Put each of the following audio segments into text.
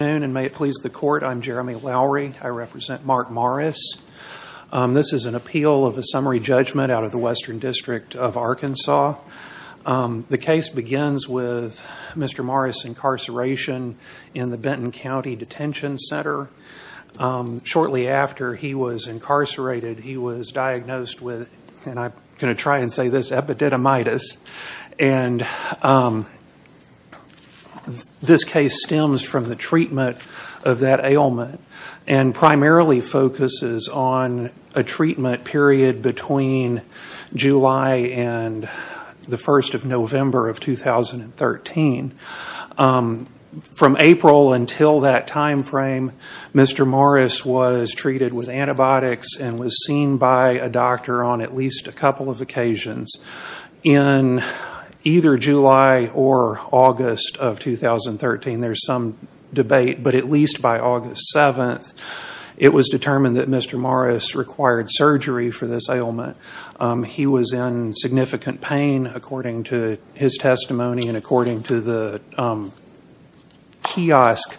Good afternoon and may it please the court. I'm Jeremy Lowry. I represent Mark Morris. This is an appeal of a summary judgment out of the Western District of Arkansas. The case begins with Mr. Morris' incarceration in the Benton County Detention Center. Shortly after he was incarcerated, he was diagnosed with, and I'm going to try and say this, Epididymitis. And this case stems from the treatment of that ailment and primarily focuses on a treatment period between July and the 1st of November of 2013. From April until that time frame, Mr. Morris was treated with antibiotics and was seen by a doctor on at least a couple of occasions. In either July or August of 2013, there's some debate, but at least by August 7th, it was determined that Mr. Morris required surgery for this ailment. He was in significant pain according to his testimony and according to the kiosk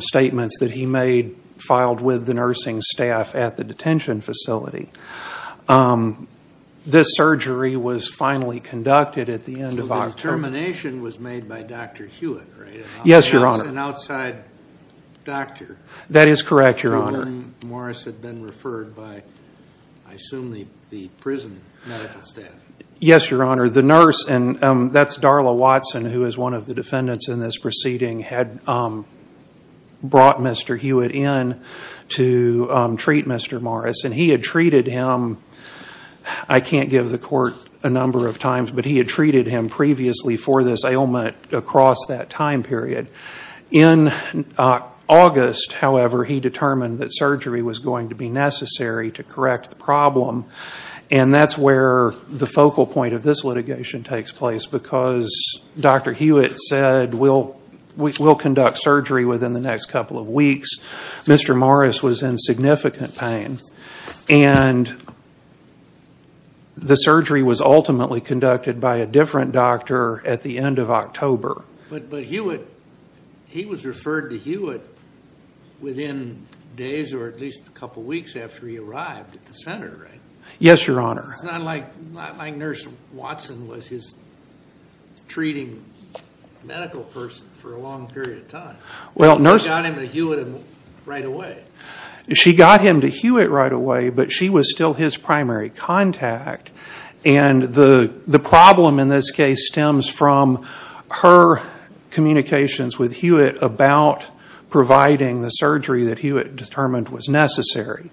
statements that he made filed with the nursing staff at the detention facility. This surgery was finally conducted at the end of October. So the termination was made by Dr. Hewitt, right? Yes, Your Honor. An outside doctor. That is correct, Your Honor. The one Morris had been referred by, I assume, the prison medical staff. Yes, Your Honor. The nurse, and that's Darla Watson, who is one of the defendants in this proceeding, had brought Mr. Hewitt in to treat Mr. Morris. He had treated him, I can't give the court a number of times, but he had treated him previously for this ailment across that time period. In August, however, he determined that surgery was going to be necessary to correct the problem. That's where the focal point of this litigation takes place because Dr. Hewitt said, we'll conduct surgery within the next couple of weeks. Mr. Morris was in significant pain and the surgery was ultimately conducted by a different doctor at the end of October. But Hewitt, he was referred to Hewitt within days or at least a couple of weeks after he arrived at the center, right? Yes, Your Honor. It's not like Nurse Watson was his treating medical person for a long period of time. She got him to Hewitt right away. She got him to Hewitt right away, but she was still his primary contact. The problem in this case stems from her communications with Hewitt about providing the surgery that Hewitt determined was necessary.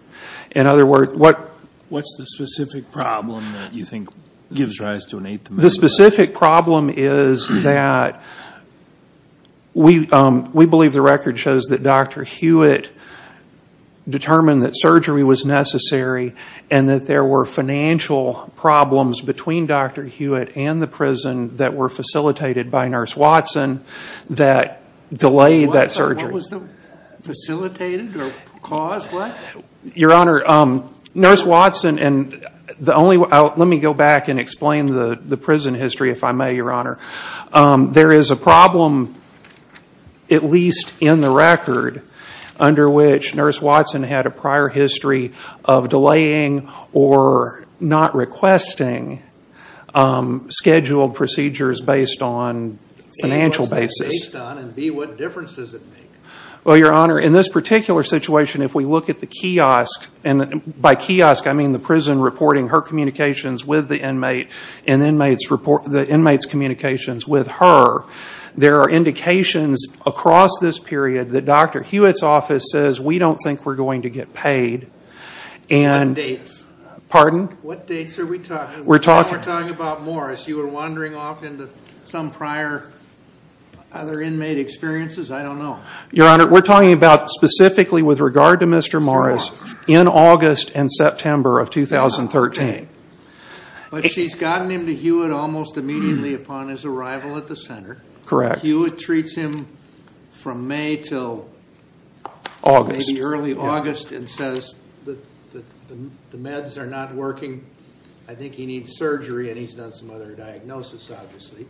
In other words, what... What's the specific problem that you think gives rise to an eighth amendment? The specific problem is that we believe the record shows that Dr. Hewitt determined that surgery was necessary and that there were financial problems between Dr. Hewitt and the prison that were facilitated by Nurse Watson that delayed that surgery. What was the facilitated or caused? What? Your Honor, Nurse Watson and the only... Let me go back and explain the prison history if I may, Your Honor. There is a problem, at least in the record, under which Nurse Watson had a prior history of delaying or not requesting scheduled procedures based on financial basis. A, what's that based on and B, what difference does it make? Your Honor, in this particular situation, if we look at the kiosk, and by kiosk I mean the prison reporting her communications with the inmate and the inmate's communications with her, there are indications across this period that Dr. Hewitt's office says, we don't think we're going to get paid. What dates? Pardon? What dates are we talking about? We're talking... We're talking about Morris. You were wandering off into some prior other inmate experiences? I don't know. Your Honor, we're talking about specifically with regard to Mr. Morris in August and September of 2013. Oh, okay. But she's gotten him to Hewitt almost immediately upon his arrival at the center. Correct. Hewitt treats him from May till maybe early August and says that the meds are not working. I think he needs surgery and he's done some other diagnosis, obviously.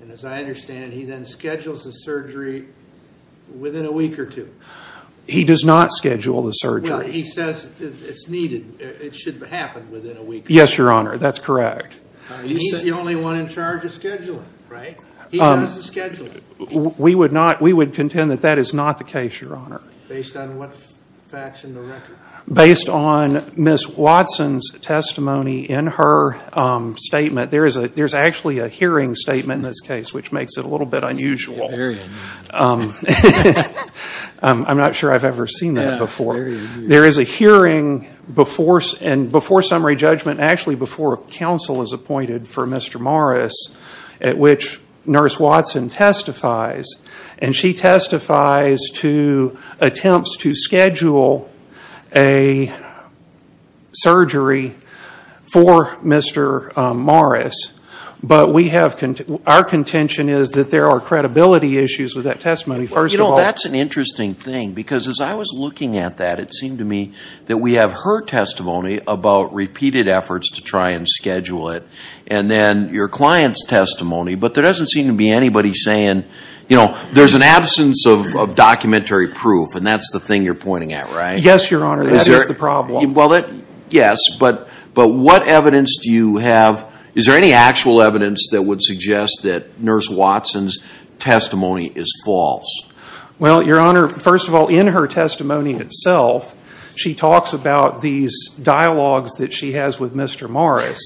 And as I understand, he then schedules the surgery within a week or two. He does not schedule the surgery. Well, he says it's needed. It should happen within a week or two. Yes, Your Honor. That's correct. He's the only one in charge of scheduling, right? He does the scheduling. We would not... We would contend that that is not the case, Your Honor. Based on what facts in the record? Based on Ms. Watson's testimony in her statement. There's actually a hearing statement in this which makes it a little bit unusual. Very unusual. I'm not sure I've ever seen that before. There is a hearing before summary judgment, actually before counsel is appointed for Mr. Morris at which Nurse Watson testifies. And she testifies to attempts to schedule a surgery for Mr. Morris. But we have... Our contention is that there are credibility issues with that testimony, first of all. That's an interesting thing because as I was looking at that, it seemed to me that we have her testimony about repeated efforts to try and schedule it. And then your client's testimony. But there doesn't seem to be anybody saying, you know, there's an absence of documentary proof. And that's the thing you're pointing at, right? Yes, Your Honor. That is the problem. Well, yes. But what evidence do you have? Is there any actual evidence that would suggest that Nurse Watson's testimony is false? Well, Your Honor, first of all, in her testimony itself, she talks about these dialogues that she has with Mr. Morris.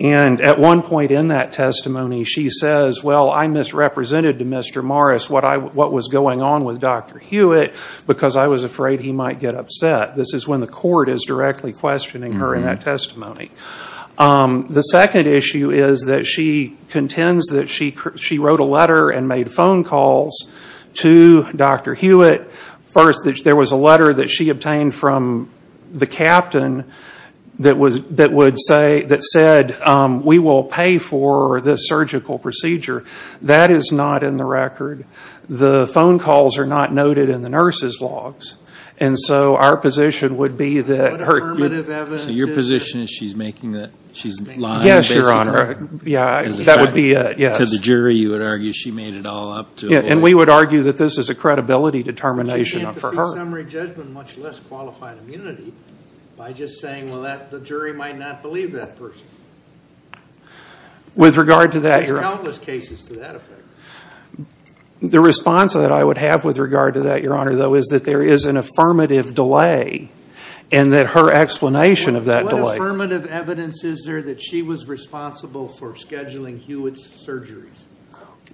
And at one point in that testimony, she says, well, I misrepresented to Mr. Morris what was going on with Dr. Hewitt because I was afraid he might get upset. This is when the court is directly questioning her in that testimony. The second issue is that she contends that she wrote a letter and made phone calls to Dr. Hewitt. First, there was a letter that she obtained from the captain that said, we will pay for this surgical procedure. That is not in the record. The phone calls are not noted in the nurse's logs. And so our position would be that her... What affirmative evidence is it? So your position is she's lying and basing her... Yes, Your Honor. Yeah, that would be it. To the jury, you would argue she made it all up to... Yeah, and we would argue that this is a credibility determination for her. But she came to free summary judgment, much less qualified immunity, by just saying, well, the jury might not believe that person. With regard to that... There's countless cases to that effect. The response that I would have with regard to that, Your Honor, though, is that there is an affirmative delay, and that her explanation of that delay... What affirmative evidence is there that she was responsible for scheduling Hewitt's surgeries?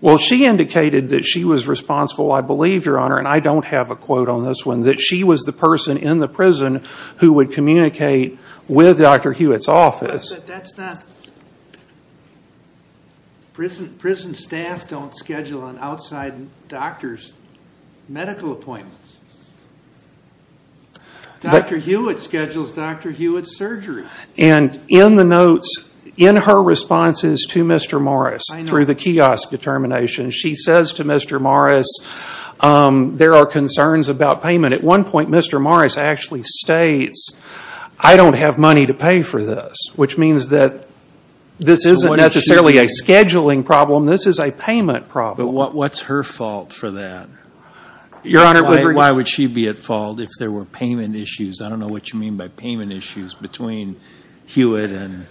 Well, she indicated that she was responsible, I believe, Your Honor, and I don't have a quote on this one, that she was the person in the prison who would communicate with Dr. Hewitt's office. But that's not... Prison staff don't schedule an outside doctor's medical appointments. Dr. Hewitt schedules Dr. Hewitt's surgeries. And in the notes, in her responses to Mr. Morris through the kiosk determination, she says to Mr. Morris, there are concerns about payment. At one point, Mr. Morris actually states, I don't have money to pay for this, which means that this isn't necessarily a scheduling problem, this is a payment problem. But what's her fault for that? Why would she be at fault if there were payment issues? I don't know what you mean by payment issues between Hewitt and,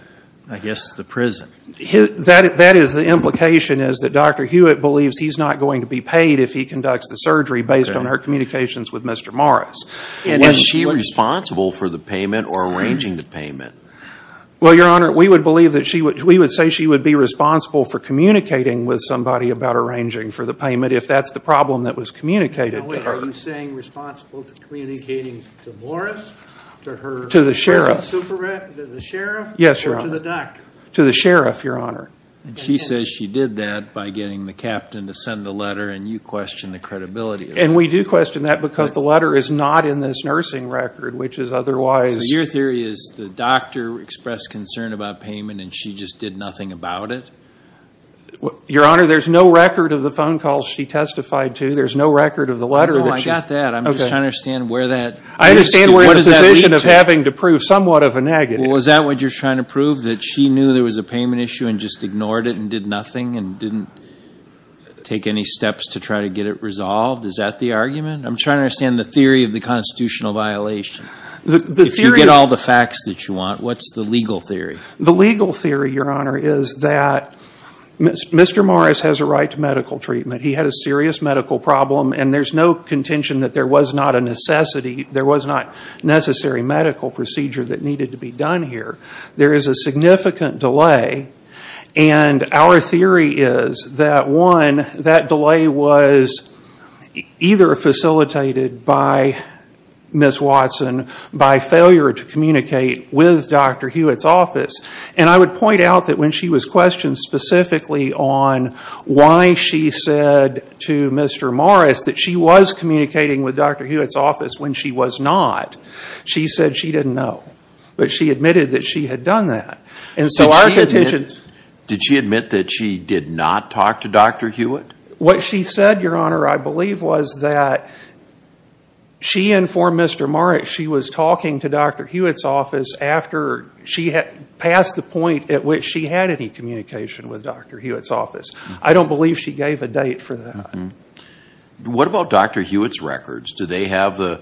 I guess, the prison. That is the implication, is that Dr. Hewitt believes he's not going to be paid if he conducts a surgery based on her communications with Mr. Morris. And was she responsible for the payment or arranging the payment? Well, Your Honor, we would believe that she would, we would say she would be responsible for communicating with somebody about arranging for the payment if that's the problem that was communicated to her. Are you saying responsible to communicating to Morris, to her... To the sheriff. To the sheriff? Yes, Your Honor. Or to the doctor? To the sheriff, Your Honor. And she says she did that by getting the captain to send the letter and you question the credibility of it. And we do question that because the letter is not in this nursing record, which is otherwise... So your theory is the doctor expressed concern about payment and she just did nothing about it? Your Honor, there's no record of the phone calls she testified to, there's no record of the letter that she... No, I got that. I'm just trying to understand where that... I understand where the position of having to prove somewhat of a negative... Well, is that what you're trying to prove? That she knew there was a payment issue and just ignored it and did nothing and didn't take any steps to try to get it resolved? Is that the argument? I'm trying to understand the theory of the constitutional violation. The theory... If you get all the facts that you want, what's the legal theory? The legal theory, Your Honor, is that Mr. Morris has a right to medical treatment. He had a serious medical problem and there's no contention that there was not a necessity, there was not necessary medical procedure that needed to be done here. There is a significant delay and our theory is that one, that delay was either facilitated by Ms. Watson by failure to communicate with Dr. Hewitt's office and I would point out that when she was questioned specifically on why she said to Mr. Morris that she was not, she said she didn't know, but she admitted that she had done that. And so our... Did she admit that she did not talk to Dr. Hewitt? What she said, Your Honor, I believe was that she informed Mr. Morris she was talking to Dr. Hewitt's office after she had passed the point at which she had any communication with Dr. Hewitt's office. I don't believe she gave a date for that. What about Dr. Hewitt's records? Do they have the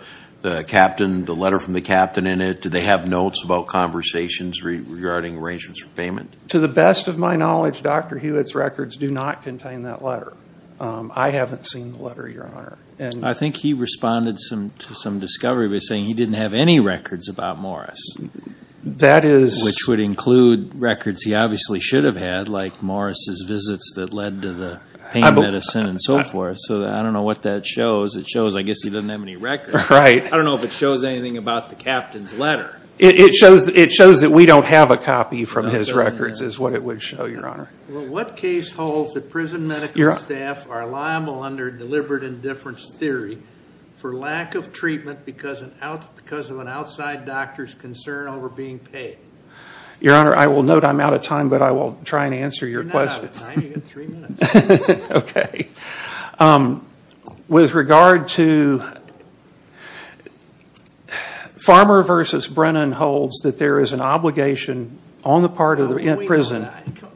captain, the letter from the captain in it? Do they have notes about conversations regarding arrangements for payment? To the best of my knowledge, Dr. Hewitt's records do not contain that letter. I haven't seen the letter, Your Honor. I think he responded to some discovery by saying he didn't have any records about Morris. That is... Which would include records he obviously should have had, like Morris's visits that led to the pain medicine and so forth. So I don't know what that shows. It shows I guess he doesn't have any records. I don't know if it shows anything about the captain's letter. It shows that we don't have a copy from his records is what it would show, Your Honor. What case holds that prison medical staff are liable under deliberate indifference theory for lack of treatment because of an outside doctor's concern over being paid? Your Honor, I will note I'm out of time, but I will try and answer your question. You're not out of time. You've got three minutes. Okay. With regard to Farmer v. Brennan holds that there is an obligation on the part of the prison...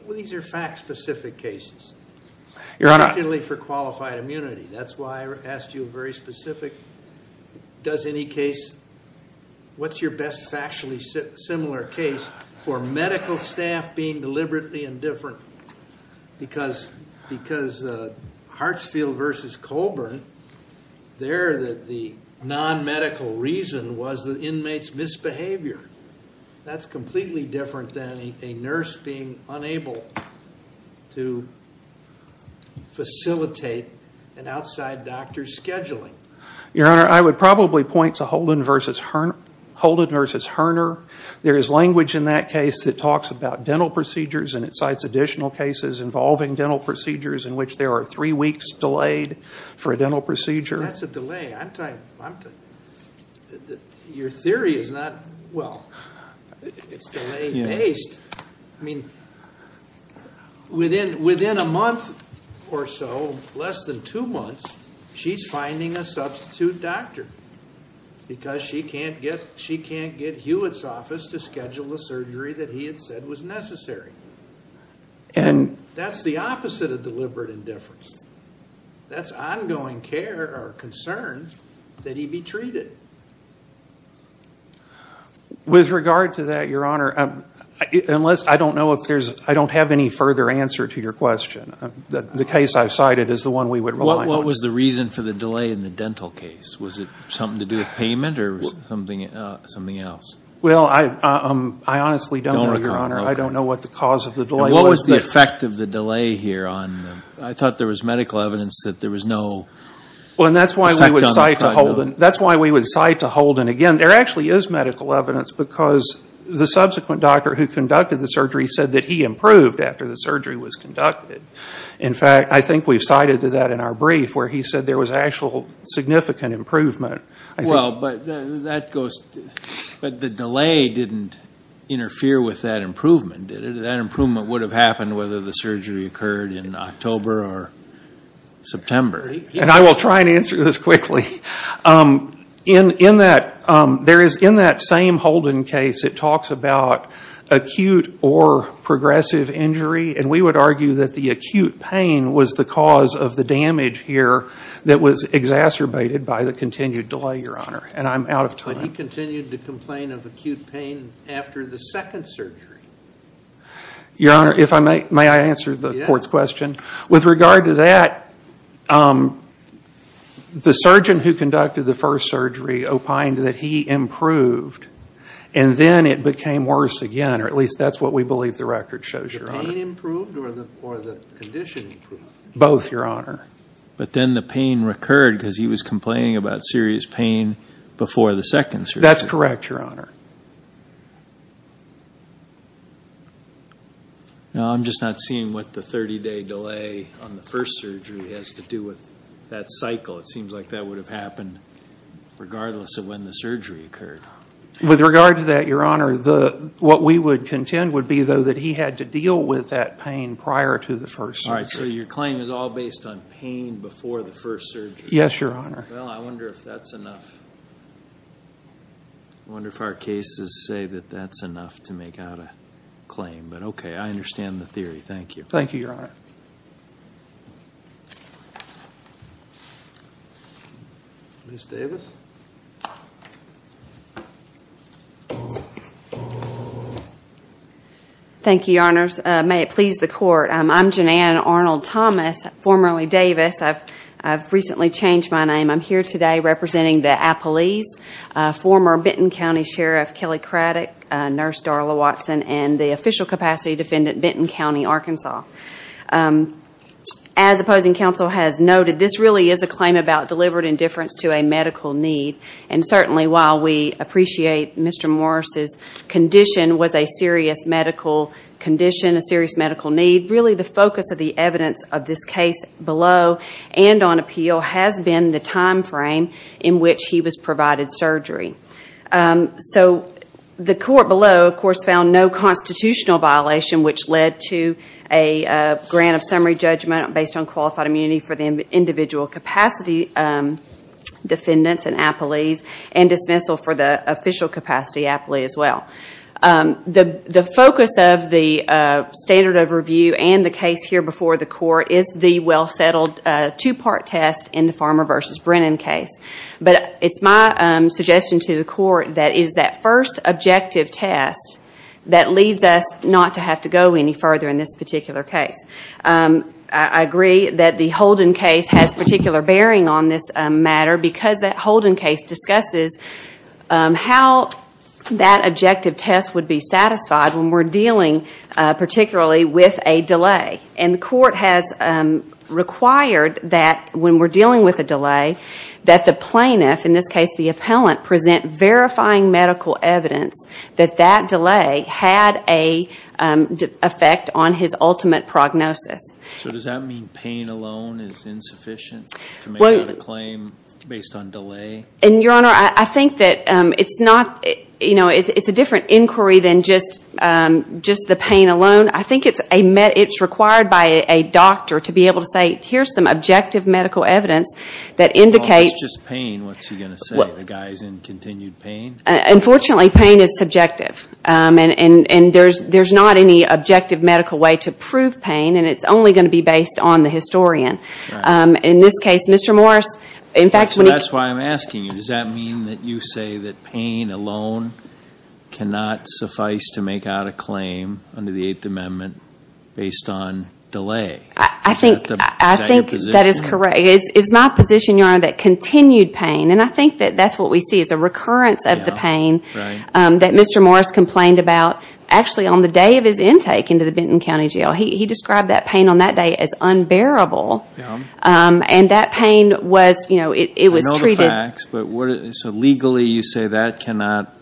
These are fact-specific cases. Your Honor... Particularly for qualified immunity. That's why I asked you a very specific, does any case... What's your best factually similar case for medical staff being deliberately indifferent because Hartsfield v. Colburn, there the non-medical reason was the inmate's misbehavior. That's completely different than a nurse being unable to facilitate an outside doctor's scheduling. Your Honor, I would probably point to Holden v. Herner. There is language in that case that talks about dental procedures and it cites additional cases involving dental procedures in which there are three weeks delayed for a dental procedure. That's a delay. Your theory is not... Well, it's delay-based. Within a month or so, less than two months, she's finding a substitute doctor because she can't get Hewitt's office to schedule the surgery that he had said was necessary. That's the opposite of deliberate indifference. That's ongoing care or concern that he be treated. With regard to that, Your Honor, unless I don't know if there's... I don't have any further answer to your question. The case I've cited is the one we would rely on. What was the reason for the delay in the dental case? Was it something to do with payment or something else? I honestly don't know, Your Honor. I don't know what the cause of the delay was. What was the effect of the delay here? I thought there was medical evidence that there was no... That's why we would cite to Holden. Again, there actually is medical evidence because the subsequent doctor who conducted the surgery said that he improved after the surgery was conducted. In fact, I think we've cited to that in our brief where he said there was actual significant improvement. But the delay didn't interfere with that improvement, did it? That improvement would have happened whether the surgery occurred in October or September. I will try and answer this quickly. In that same Holden case, it talks about acute or progressive injury. And we would argue that the acute pain was the cause of the damage here that was exacerbated by the continued delay, Your Honor. And I'm out of time. But he continued to complain of acute pain after the second surgery. Your Honor, may I answer the court's question? With regard to that, the surgeon who conducted the first surgery opined that he improved. And then it became worse again, or at least that's what we believe the record shows, Your Honor. Was the pain improved or the condition improved? Both, Your Honor. But then the pain recurred because he was complaining about serious pain before the second surgery. That's correct, Your Honor. Now, I'm just not seeing what the 30-day delay on the first surgery has to do with that cycle. It seems like that would have happened regardless of when the surgery occurred. With regard to that, Your Honor, what we would contend would be, though, that he had to deal with that pain prior to the first surgery. All right. So your claim is all based on pain before the first surgery. Yes, Your Honor. Well, I wonder if that's enough. I wonder if our cases say that that's enough to make out a claim. But, okay, I understand the theory. Thank you. Thank you, Your Honor. Ms. Davis? Thank you, Your Honors. May it please the Court. I'm Janann Arnold-Thomas, formerly Davis. I've recently changed my name. I'm here today representing the Appalese, former Benton County Sheriff Kelly Craddock, Nurse Darla Watson, and the official capacity defendant, Benton County, Arkansas. As opposing counsel has noted, this really is a claim about deliberate indifference to a medical need, and certainly while we appreciate Mr. Morris's condition was a serious medical condition, a serious medical need, really the focus of the evidence of this case below and on appeal has been the time frame in which he was provided surgery. So the court below, of course, found no constitutional violation, which led to a grant of summary judgment based on qualified immunity for the individual capacity defendants in Appalese and dismissal for the official capacity Appalese as well. The focus of the standard of review and the case here before the court is the well-settled two-part test in the Farmer v. Brennan case. But it's my suggestion to the court that it is that first objective test that leads us not to have to go any further in this particular case. I agree that the Holden case has particular bearing on this matter because that Holden case discusses how that objective test would be satisfied when we're dealing particularly with a delay. And the court has required that when we're dealing with a delay that the plaintiff, in this case the appellant, present verifying medical evidence that that delay had an effect on his ultimate prognosis. So does that mean pain alone is insufficient to make out a claim based on delay? And, Your Honor, I think that it's not, you know, it's a different inquiry than just the pain alone. I think it's required by a doctor to be able to say, here's some objective medical evidence that indicates Well, if it's just pain, what's he going to say? The guy's in continued pain? Unfortunately, pain is subjective. And there's not any objective medical way to prove pain, and it's only going to be based on the historian. In this case, Mr. Morris, in fact, when he That's why I'm asking you, does that mean that you say that pain alone cannot suffice to make out a claim under the Eighth Amendment based on delay? I think that is correct. It's my position, Your Honor, that continued pain, and I think that that's what we see is a recurrence of the pain that Mr. Morris complained about. Actually, on the day of his intake into the Benton County Jail, he described that pain on that day as unbearable. And that pain was, you know, it was treated I know the facts, but so legally you say that cannot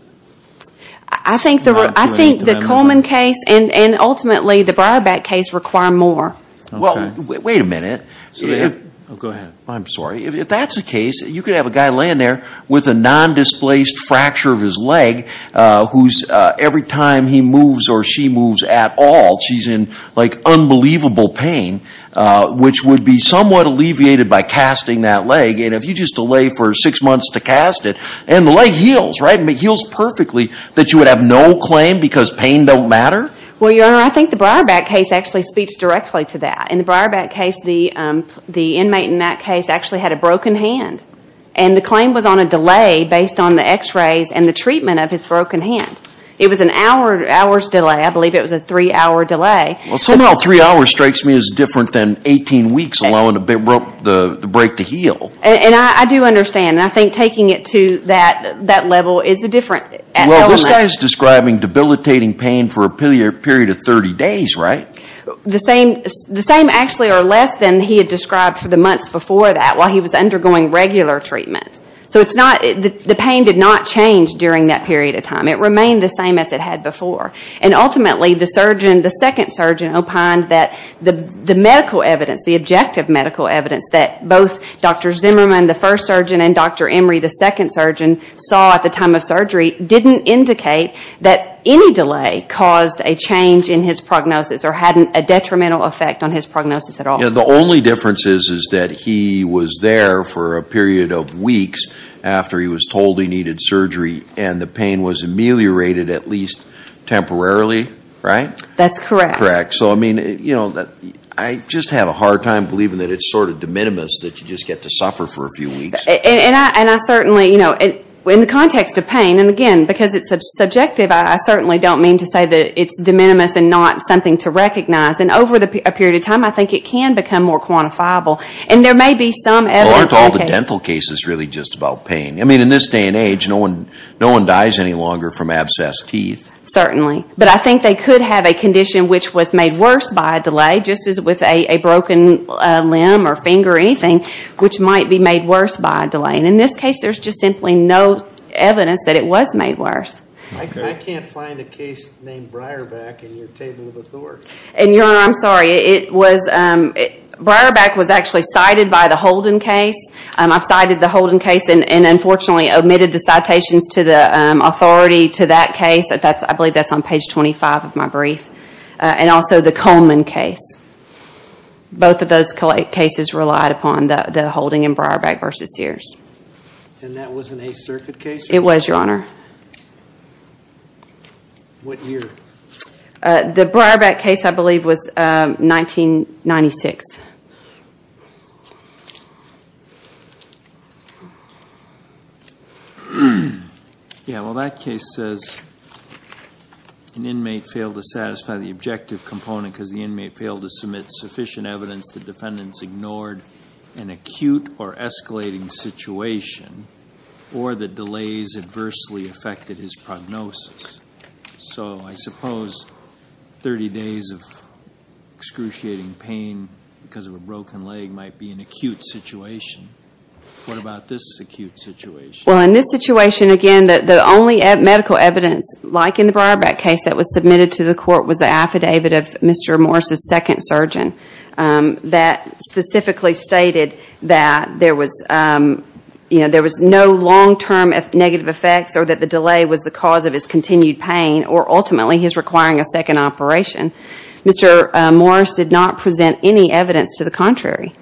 I think the Coleman case and ultimately the Briarback case require more. Well, wait a minute. Go ahead. I'm sorry. If that's the case, you could have a guy laying there with a non-displaced fracture of his leg whose every time he moves or she moves at all, she's in like unbelievable pain, which would be somewhat alleviated by casting that leg. And if you just delay for six months to cast it, and the leg heals, right? It heals perfectly, that you would have no claim because pain don't matter? Well, Your Honor, I think the Briarback case actually speaks directly to that. In the Briarback case, the inmate in that case actually had a broken hand. And the claim was on a delay based on the x-rays and the treatment of his broken hand. It was an hour's delay. I believe it was a three-hour delay. Well, somehow three hours strikes me as different than 18 weeks allowing the break to heal. And I do understand. And I think taking it to that level is a different element. Well, this guy is describing debilitating pain for a period of 30 days, right? The same actually or less than he had described for the months before that while he was undergoing regular treatment. So the pain did not change during that period of time. It remained the same as it had before. And ultimately, the surgeon, the second surgeon, opined that the medical evidence, the objective medical evidence that both Dr. Zimmerman, the first surgeon, and Dr. Emory, the second surgeon, saw at the time of surgery didn't indicate that any delay caused a change in his prognosis or had a detrimental effect on his prognosis at all. The only difference is that he was there for a period of weeks after he was told he needed surgery and the pain was ameliorated at least temporarily, right? That's correct. Correct. So, I mean, you know, I just have a hard time believing that it's sort of de minimis that you just get to suffer for a few weeks. And I certainly, you know, in the context of pain, and again, because it's subjective, I certainly don't mean to say that it's de minimis and not something to recognize. And over a period of time, I think it can become more quantifiable. And there may be some evidence. Well, aren't all the dental cases really just about pain? I mean, in this day and age, no one dies any longer from abscessed teeth. Certainly. But I think they could have a condition which was made worse by a delay, just as with a broken limb or finger or anything, which might be made worse by a delay. And in this case, there's just simply no evidence that it was made worse. I can't find a case named Breyerback in your table of authority. And, Your Honor, I'm sorry. Breyerback was actually cited by the Holden case. I've cited the Holden case and, unfortunately, omitted the citations to the authority to that case. I believe that's on page 25 of my brief. And also the Coleman case. Both of those cases relied upon the Holden and Breyerback v. Sears. And that was an Eighth Circuit case? It was, Your Honor. What year? The Breyerback case, I believe, was 1996. Yeah, well, that case says an inmate failed to satisfy the objective component because the inmate failed to submit sufficient evidence the defendants ignored an acute or escalating situation or the delays adversely affected his prognosis. So I suppose 30 days of excruciating pain because of a broken leg might be an acute situation. What about this acute situation? Well, in this situation, again, the only medical evidence, like in the Breyerback case, that was submitted to the court was the affidavit of Mr. Morris' second surgeon that specifically stated that there was no long-term negative effects or that the delay was the cause of his continued pain or ultimately his requiring a second operation. Mr. Morris did not present any evidence to the contrary.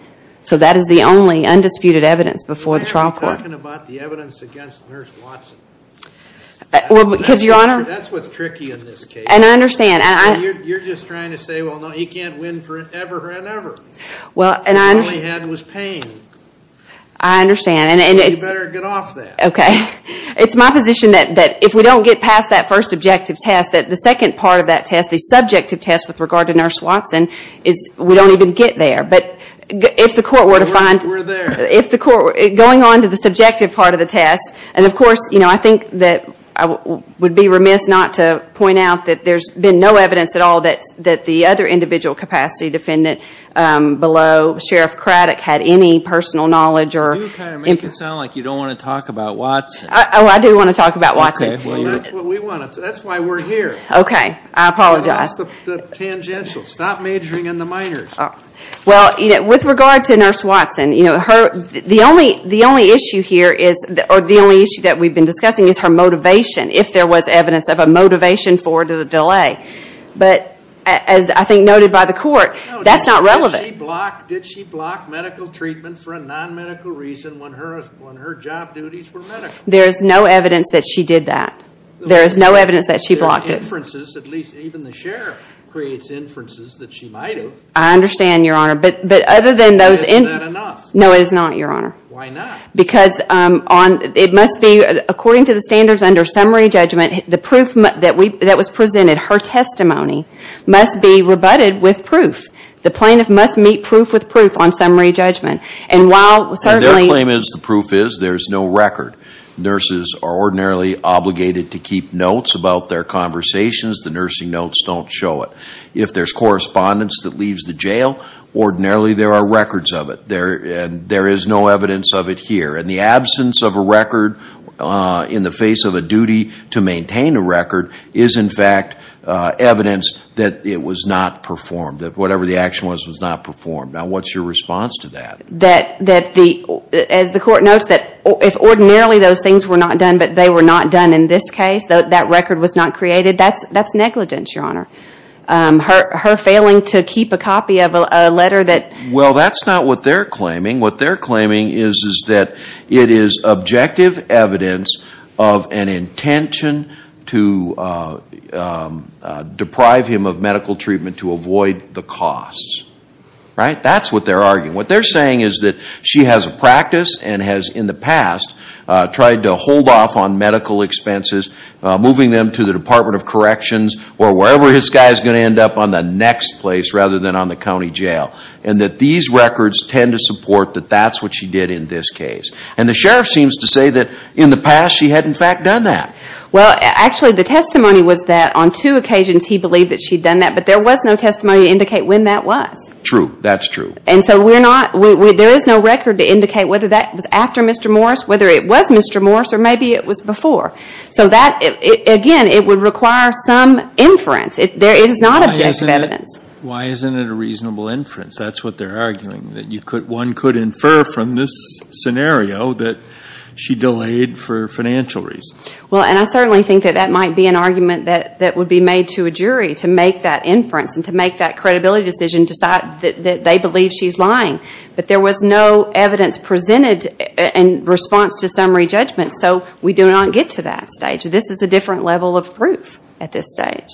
So that is the only undisputed evidence before the trial court. You're talking about the evidence against Nurse Watson. Well, because, Your Honor. That's what's tricky in this case. And I understand. You're just trying to say, well, no, he can't win forever and ever. Well, and I'm. All he had was pain. I understand. And it's. You better get off that. Okay. It's my position that if we don't get past that first objective test, that the second part of that test, the subjective test with regard to Nurse Watson, is we don't even get there. But if the court were to find. We're there. If the court were. Going on to the subjective part of the test. And, of course, I think that I would be remiss not to point out that there's been no evidence at all that the other individual capacity defendant below, Sheriff Craddock, had any personal knowledge or. You kind of make it sound like you don't want to talk about Watson. Oh, I do want to talk about Watson. Well, that's what we want to. That's why we're here. Okay. I apologize. That's the tangential. Stop majoring in the minors. Well, with regard to Nurse Watson, you know, the only issue here is. Or the only issue that we've been discussing is her motivation. If there was evidence of a motivation for the delay. But, as I think noted by the court, that's not relevant. Did she block medical treatment for a non-medical reason when her job duties were medical? There is no evidence that she did that. There is no evidence that she blocked it. There are inferences. At least even the Sheriff creates inferences that she might have. I understand, Your Honor. But other than those. Isn't that enough? No, it is not, Your Honor. Why not? Because it must be. According to the standards under summary judgment. The proof that was presented. Her testimony. Must be rebutted with proof. The plaintiff must meet proof with proof on summary judgment. And while certainly. Their claim is the proof is. There is no record. Nurses are ordinarily obligated to keep notes about their conversations. The nursing notes don't show it. If there's correspondence that leaves the jail. Ordinarily there are records of it. There is no evidence of it here. And the absence of a record in the face of a duty to maintain a record. Is in fact evidence that it was not performed. That whatever the action was, was not performed. Now what's your response to that? That the, as the court notes. That if ordinarily those things were not done. But they were not done in this case. That record was not created. That's negligence, Your Honor. Her failing to keep a copy of a letter that. Well, that's not what they're claiming. What they're claiming is. Is that it is objective evidence. Of an intention. To deprive him of medical treatment. To avoid the costs. Right? That's what they're arguing. What they're saying is that she has a practice. And has in the past. Tried to hold off on medical expenses. Moving them to the Department of Corrections. Or wherever this guy is going to end up. On the next place. Rather than on the county jail. And that these records tend to support. That that's what she did in this case. And the sheriff seems to say that. In the past she had in fact done that. Well, actually the testimony was that. On two occasions he believed that she'd done that. But there was no testimony to indicate when that was. True. That's true. And so we're not. There is no record to indicate whether that was after Mr. Morris. Whether it was Mr. Morris. Or maybe it was before. So that. Again, it would require some inference. There is not objective evidence. Why isn't it a reasonable inference? That's what they're arguing. That one could infer from this scenario. That she delayed for financial reasons. Well, and I certainly think that that might be an argument. That would be made to a jury. To make that inference. And to make that credibility decision. To decide that they believe she's lying. But there was no evidence presented. In response to summary judgment. So we do not get to that stage. This is a different level of proof. At this stage.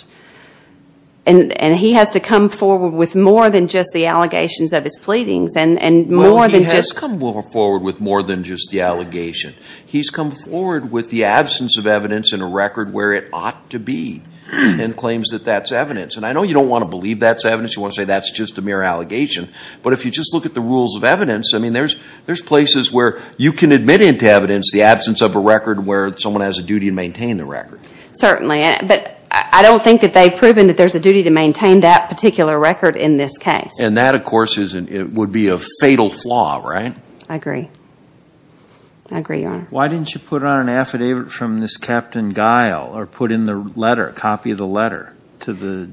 And he has to come forward with more than just the allegations of his pleadings. And more than just. Well, he has come forward with more than just the allegation. He's come forward with the absence of evidence in a record where it ought to be. And claims that that's evidence. And I know you don't want to believe that's evidence. You want to say that's just a mere allegation. But if you just look at the rules of evidence. I mean, there's places where you can admit into evidence. The absence of a record where someone has a duty to maintain the record. Certainly. But I don't think that they've proven that there's a duty to maintain that particular record in this case. And that, of course, would be a fatal flaw. Right? I agree. I agree, Your Honor. Why didn't you put on an affidavit from this Captain Guile. Or put in the letter. A copy of the letter. To the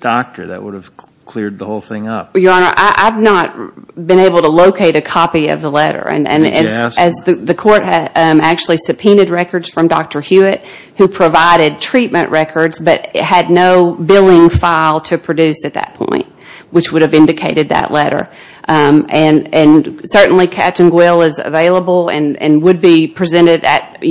doctor. That would have cleared the whole thing up. Your Honor, I've not been able to locate a copy of the letter. And as the court actually subpoenaed records from Dr. Hewitt. Who provided treatment records. But had no billing file to produce at that point. Which would have indicated that letter. And certainly Captain Guile is available. And would be presented at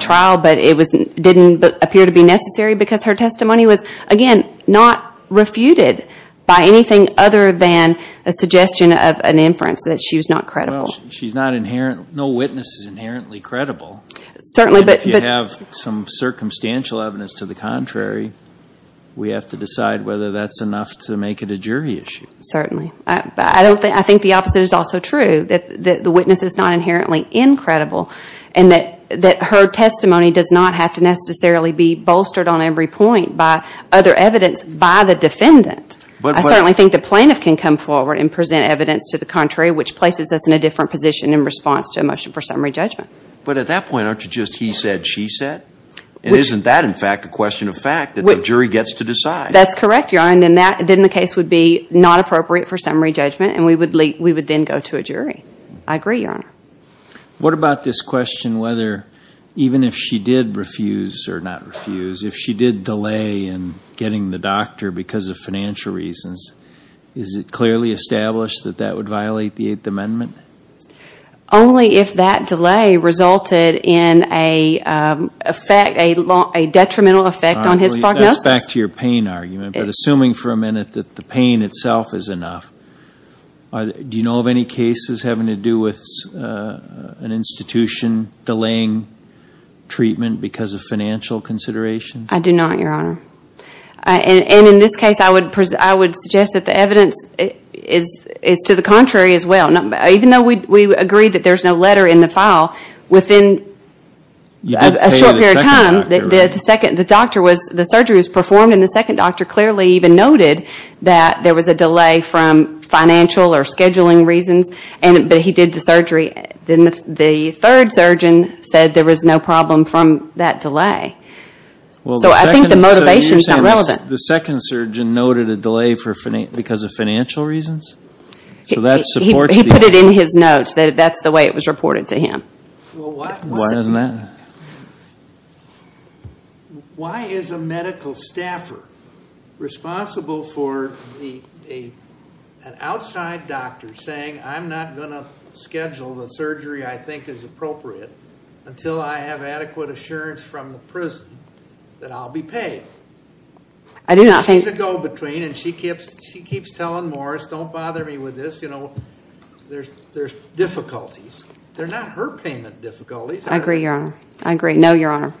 trial. But it didn't appear to be necessary. Because her testimony was, again, not refuted. By anything other than a suggestion of an inference. That she was not credible. Well, she's not inherent. No witness is inherently credible. Certainly. And if you have some circumstantial evidence to the contrary. We have to decide whether that's enough to make it a jury issue. Certainly. I think the opposite is also true. That the witness is not inherently incredible. And that her testimony does not have to necessarily be bolstered on every point. By other evidence. By the defendant. I certainly think the plaintiff can come forward. And present evidence to the contrary. Which places us in a different position. In response to a motion for summary judgment. But at that point. Aren't you just he said, she said. And isn't that, in fact, a question of fact. That the jury gets to decide. That's correct, Your Honor. And then the case would be not appropriate for summary judgment. And we would then go to a jury. I agree, Your Honor. What about this question. Whether even if she did refuse. Or not refuse. If she did delay in getting the doctor. Because of financial reasons. Is it clearly established that that would violate the 8th Amendment? Only if that delay resulted in a detrimental effect on his prognosis. That's back to your pain argument. But assuming for a minute that the pain itself is enough. Do you know of any cases having to do with an institution delaying treatment. Because of financial considerations. I do not, Your Honor. And in this case, I would suggest that the evidence is to the contrary as well. Even though we agree that there's no letter in the file. Within a short period of time. The surgery was performed. And the second doctor clearly even noted that there was a delay from financial or scheduling reasons. But he did the surgery. The third surgeon said there was no problem from that delay. So I think the motivation is not relevant. The second surgeon noted a delay because of financial reasons? He put it in his notes. That's the way it was reported to him. Why isn't that? Why is a medical staffer responsible for an outside doctor saying, I'm not going to schedule the surgery I think is appropriate. Until I have adequate assurance from the prison that I'll be paid. I do not think. She's a go between. And she keeps telling Morris, don't bother me with this. There's difficulties. They're not her payment difficulties. I agree, Your Honor. I agree. No, Your Honor.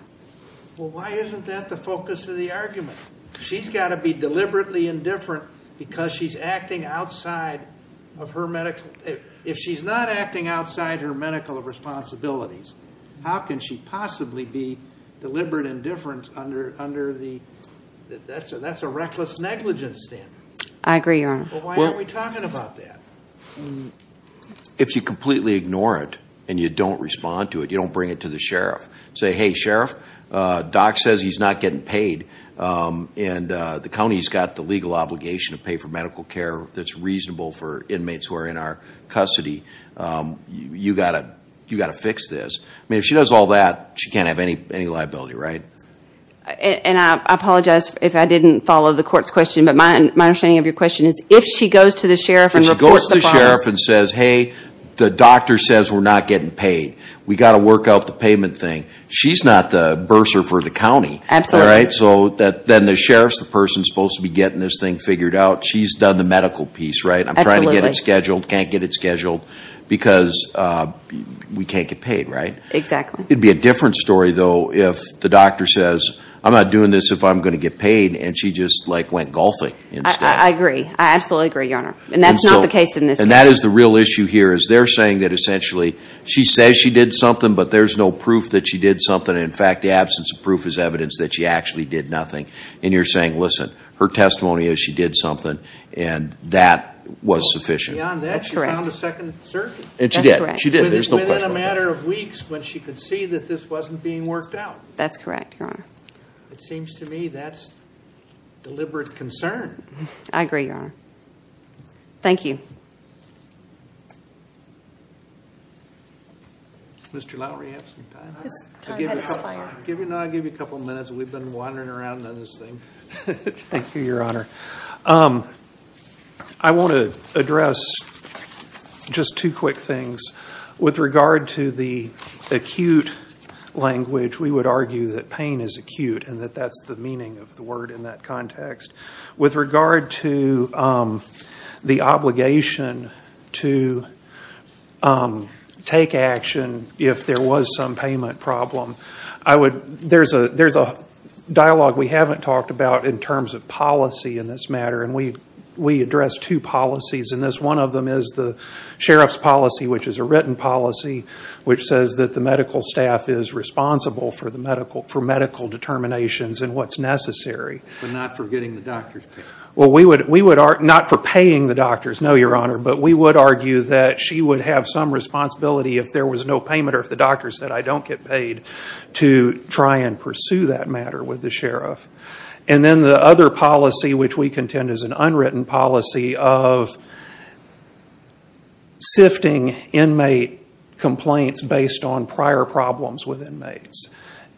Well, why isn't that the focus of the argument? She's got to be deliberately indifferent because she's acting outside of her medical. If she's not acting outside her medical responsibilities, how can she possibly be deliberate indifference under the, that's a reckless negligence standard. I agree, Your Honor. Well, why aren't we talking about that? If you completely ignore it and you don't respond to it, you don't bring it to the sheriff. Say, hey, sheriff, doc says he's not getting paid and the county's got the legal obligation to pay for medical care that's reasonable for inmates who are in our custody. You've got to fix this. I mean, if she does all that, she can't have any liability, right? And I apologize if I didn't follow the court's question, but my understanding of your question is if she goes to the sheriff and reports the fine. If she goes to the sheriff and says, hey, the doctor says we're not getting paid. We've got to work out the payment thing. She's not the bursar for the county. Absolutely. Right? So then the sheriff's the person supposed to be getting this thing figured out. She's done the medical piece, right? Absolutely. I'm trying to get it scheduled, can't get it scheduled because we can't get paid, right? Exactly. It would be a different story, though, if the doctor says, I'm not doing this if I'm going to get paid, and she just, like, went golfing instead. I agree. I absolutely agree, Your Honor. And that's not the case in this case. And that is the real issue here is they're saying that essentially she says she did something, but there's no proof that she did something. In fact, the absence of proof is evidence that she actually did nothing. And you're saying, listen, her testimony is she did something, and that was sufficient. That's correct. She found a second circuit. And she did. That's correct. Within a matter of weeks when she could see that this wasn't being worked out. That's correct, Your Honor. It seems to me that's deliberate concern. I agree, Your Honor. Thank you. Mr. Lowery, do you have some time? His time has expired. I'll give you a couple minutes. We've been wandering around on this thing. Thank you, Your Honor. I want to address just two quick things. With regard to the acute language, we would argue that pain is acute, and that that's the meaning of the word in that context. With regard to the obligation to take action if there was some payment problem, there's a dialogue we haven't talked about in terms of policy in this matter. And we address two policies in this. One of them is the sheriff's policy, which is a written policy, which says that the medical staff is responsible for medical determinations and what's necessary. But not for getting the doctors paid. Not for paying the doctors, no, Your Honor. But we would argue that she would have some responsibility if there was no payment or if the doctors said, I don't get paid, to try and pursue that matter with the sheriff. And then the other policy, which we contend is an unwritten policy, of sifting inmate complaints based on prior problems with inmates.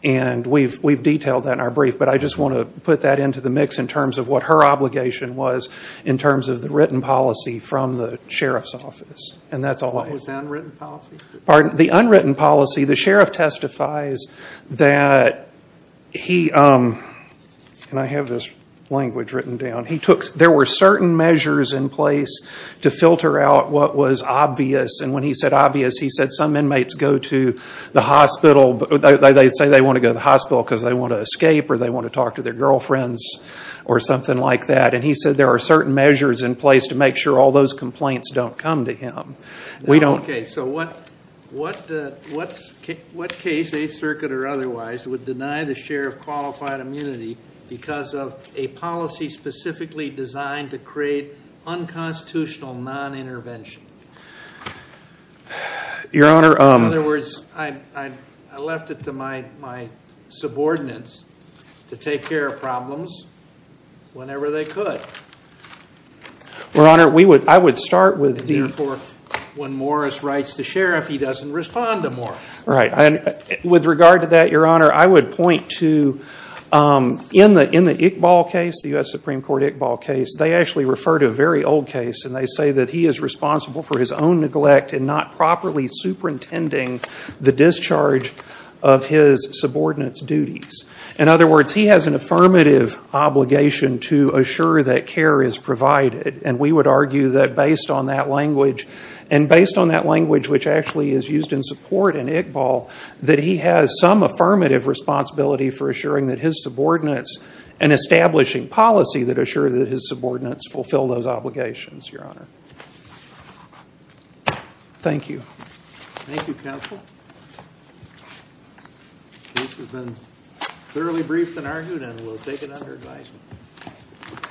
And we've detailed that in our brief, but I just want to put that into the mix in terms of what her obligation was in terms of the written policy from the sheriff's office. And that's all I have. What was the unwritten policy? The unwritten policy, the sheriff testifies that he, and I have this language written down, there were certain measures in place to filter out what was obvious. And when he said obvious, he said some inmates go to the hospital, they say they want to go to the hospital because they want to escape or they want to talk to their girlfriends or something like that. And he said there are certain measures in place to make sure all those complaints don't come to him. Okay. So what case, Eighth Circuit or otherwise, would deny the sheriff qualified immunity because of a policy specifically designed to create unconstitutional non-intervention? Your Honor. In other words, I left it to my subordinates to take care of problems whenever they could. Your Honor, I would start with the- And therefore, when Morris writes the sheriff, he doesn't respond to Morris. Right. With regard to that, Your Honor, I would point to in the Iqbal case, the U.S. Supreme Court Iqbal case, they actually refer to a very old case. And they say that he is responsible for his own neglect and not properly superintending the discharge of his subordinates' duties. In other words, he has an affirmative obligation to assure that care is provided. And we would argue that based on that language, and based on that language which actually is used in support in Iqbal, that he has some affirmative responsibility for assuring that his subordinates and establishing policy that assure that his subordinates fulfill those obligations, Your Honor. Thank you. Thank you, Counsel. This has been thoroughly briefed and argued, and we'll take it under advisement.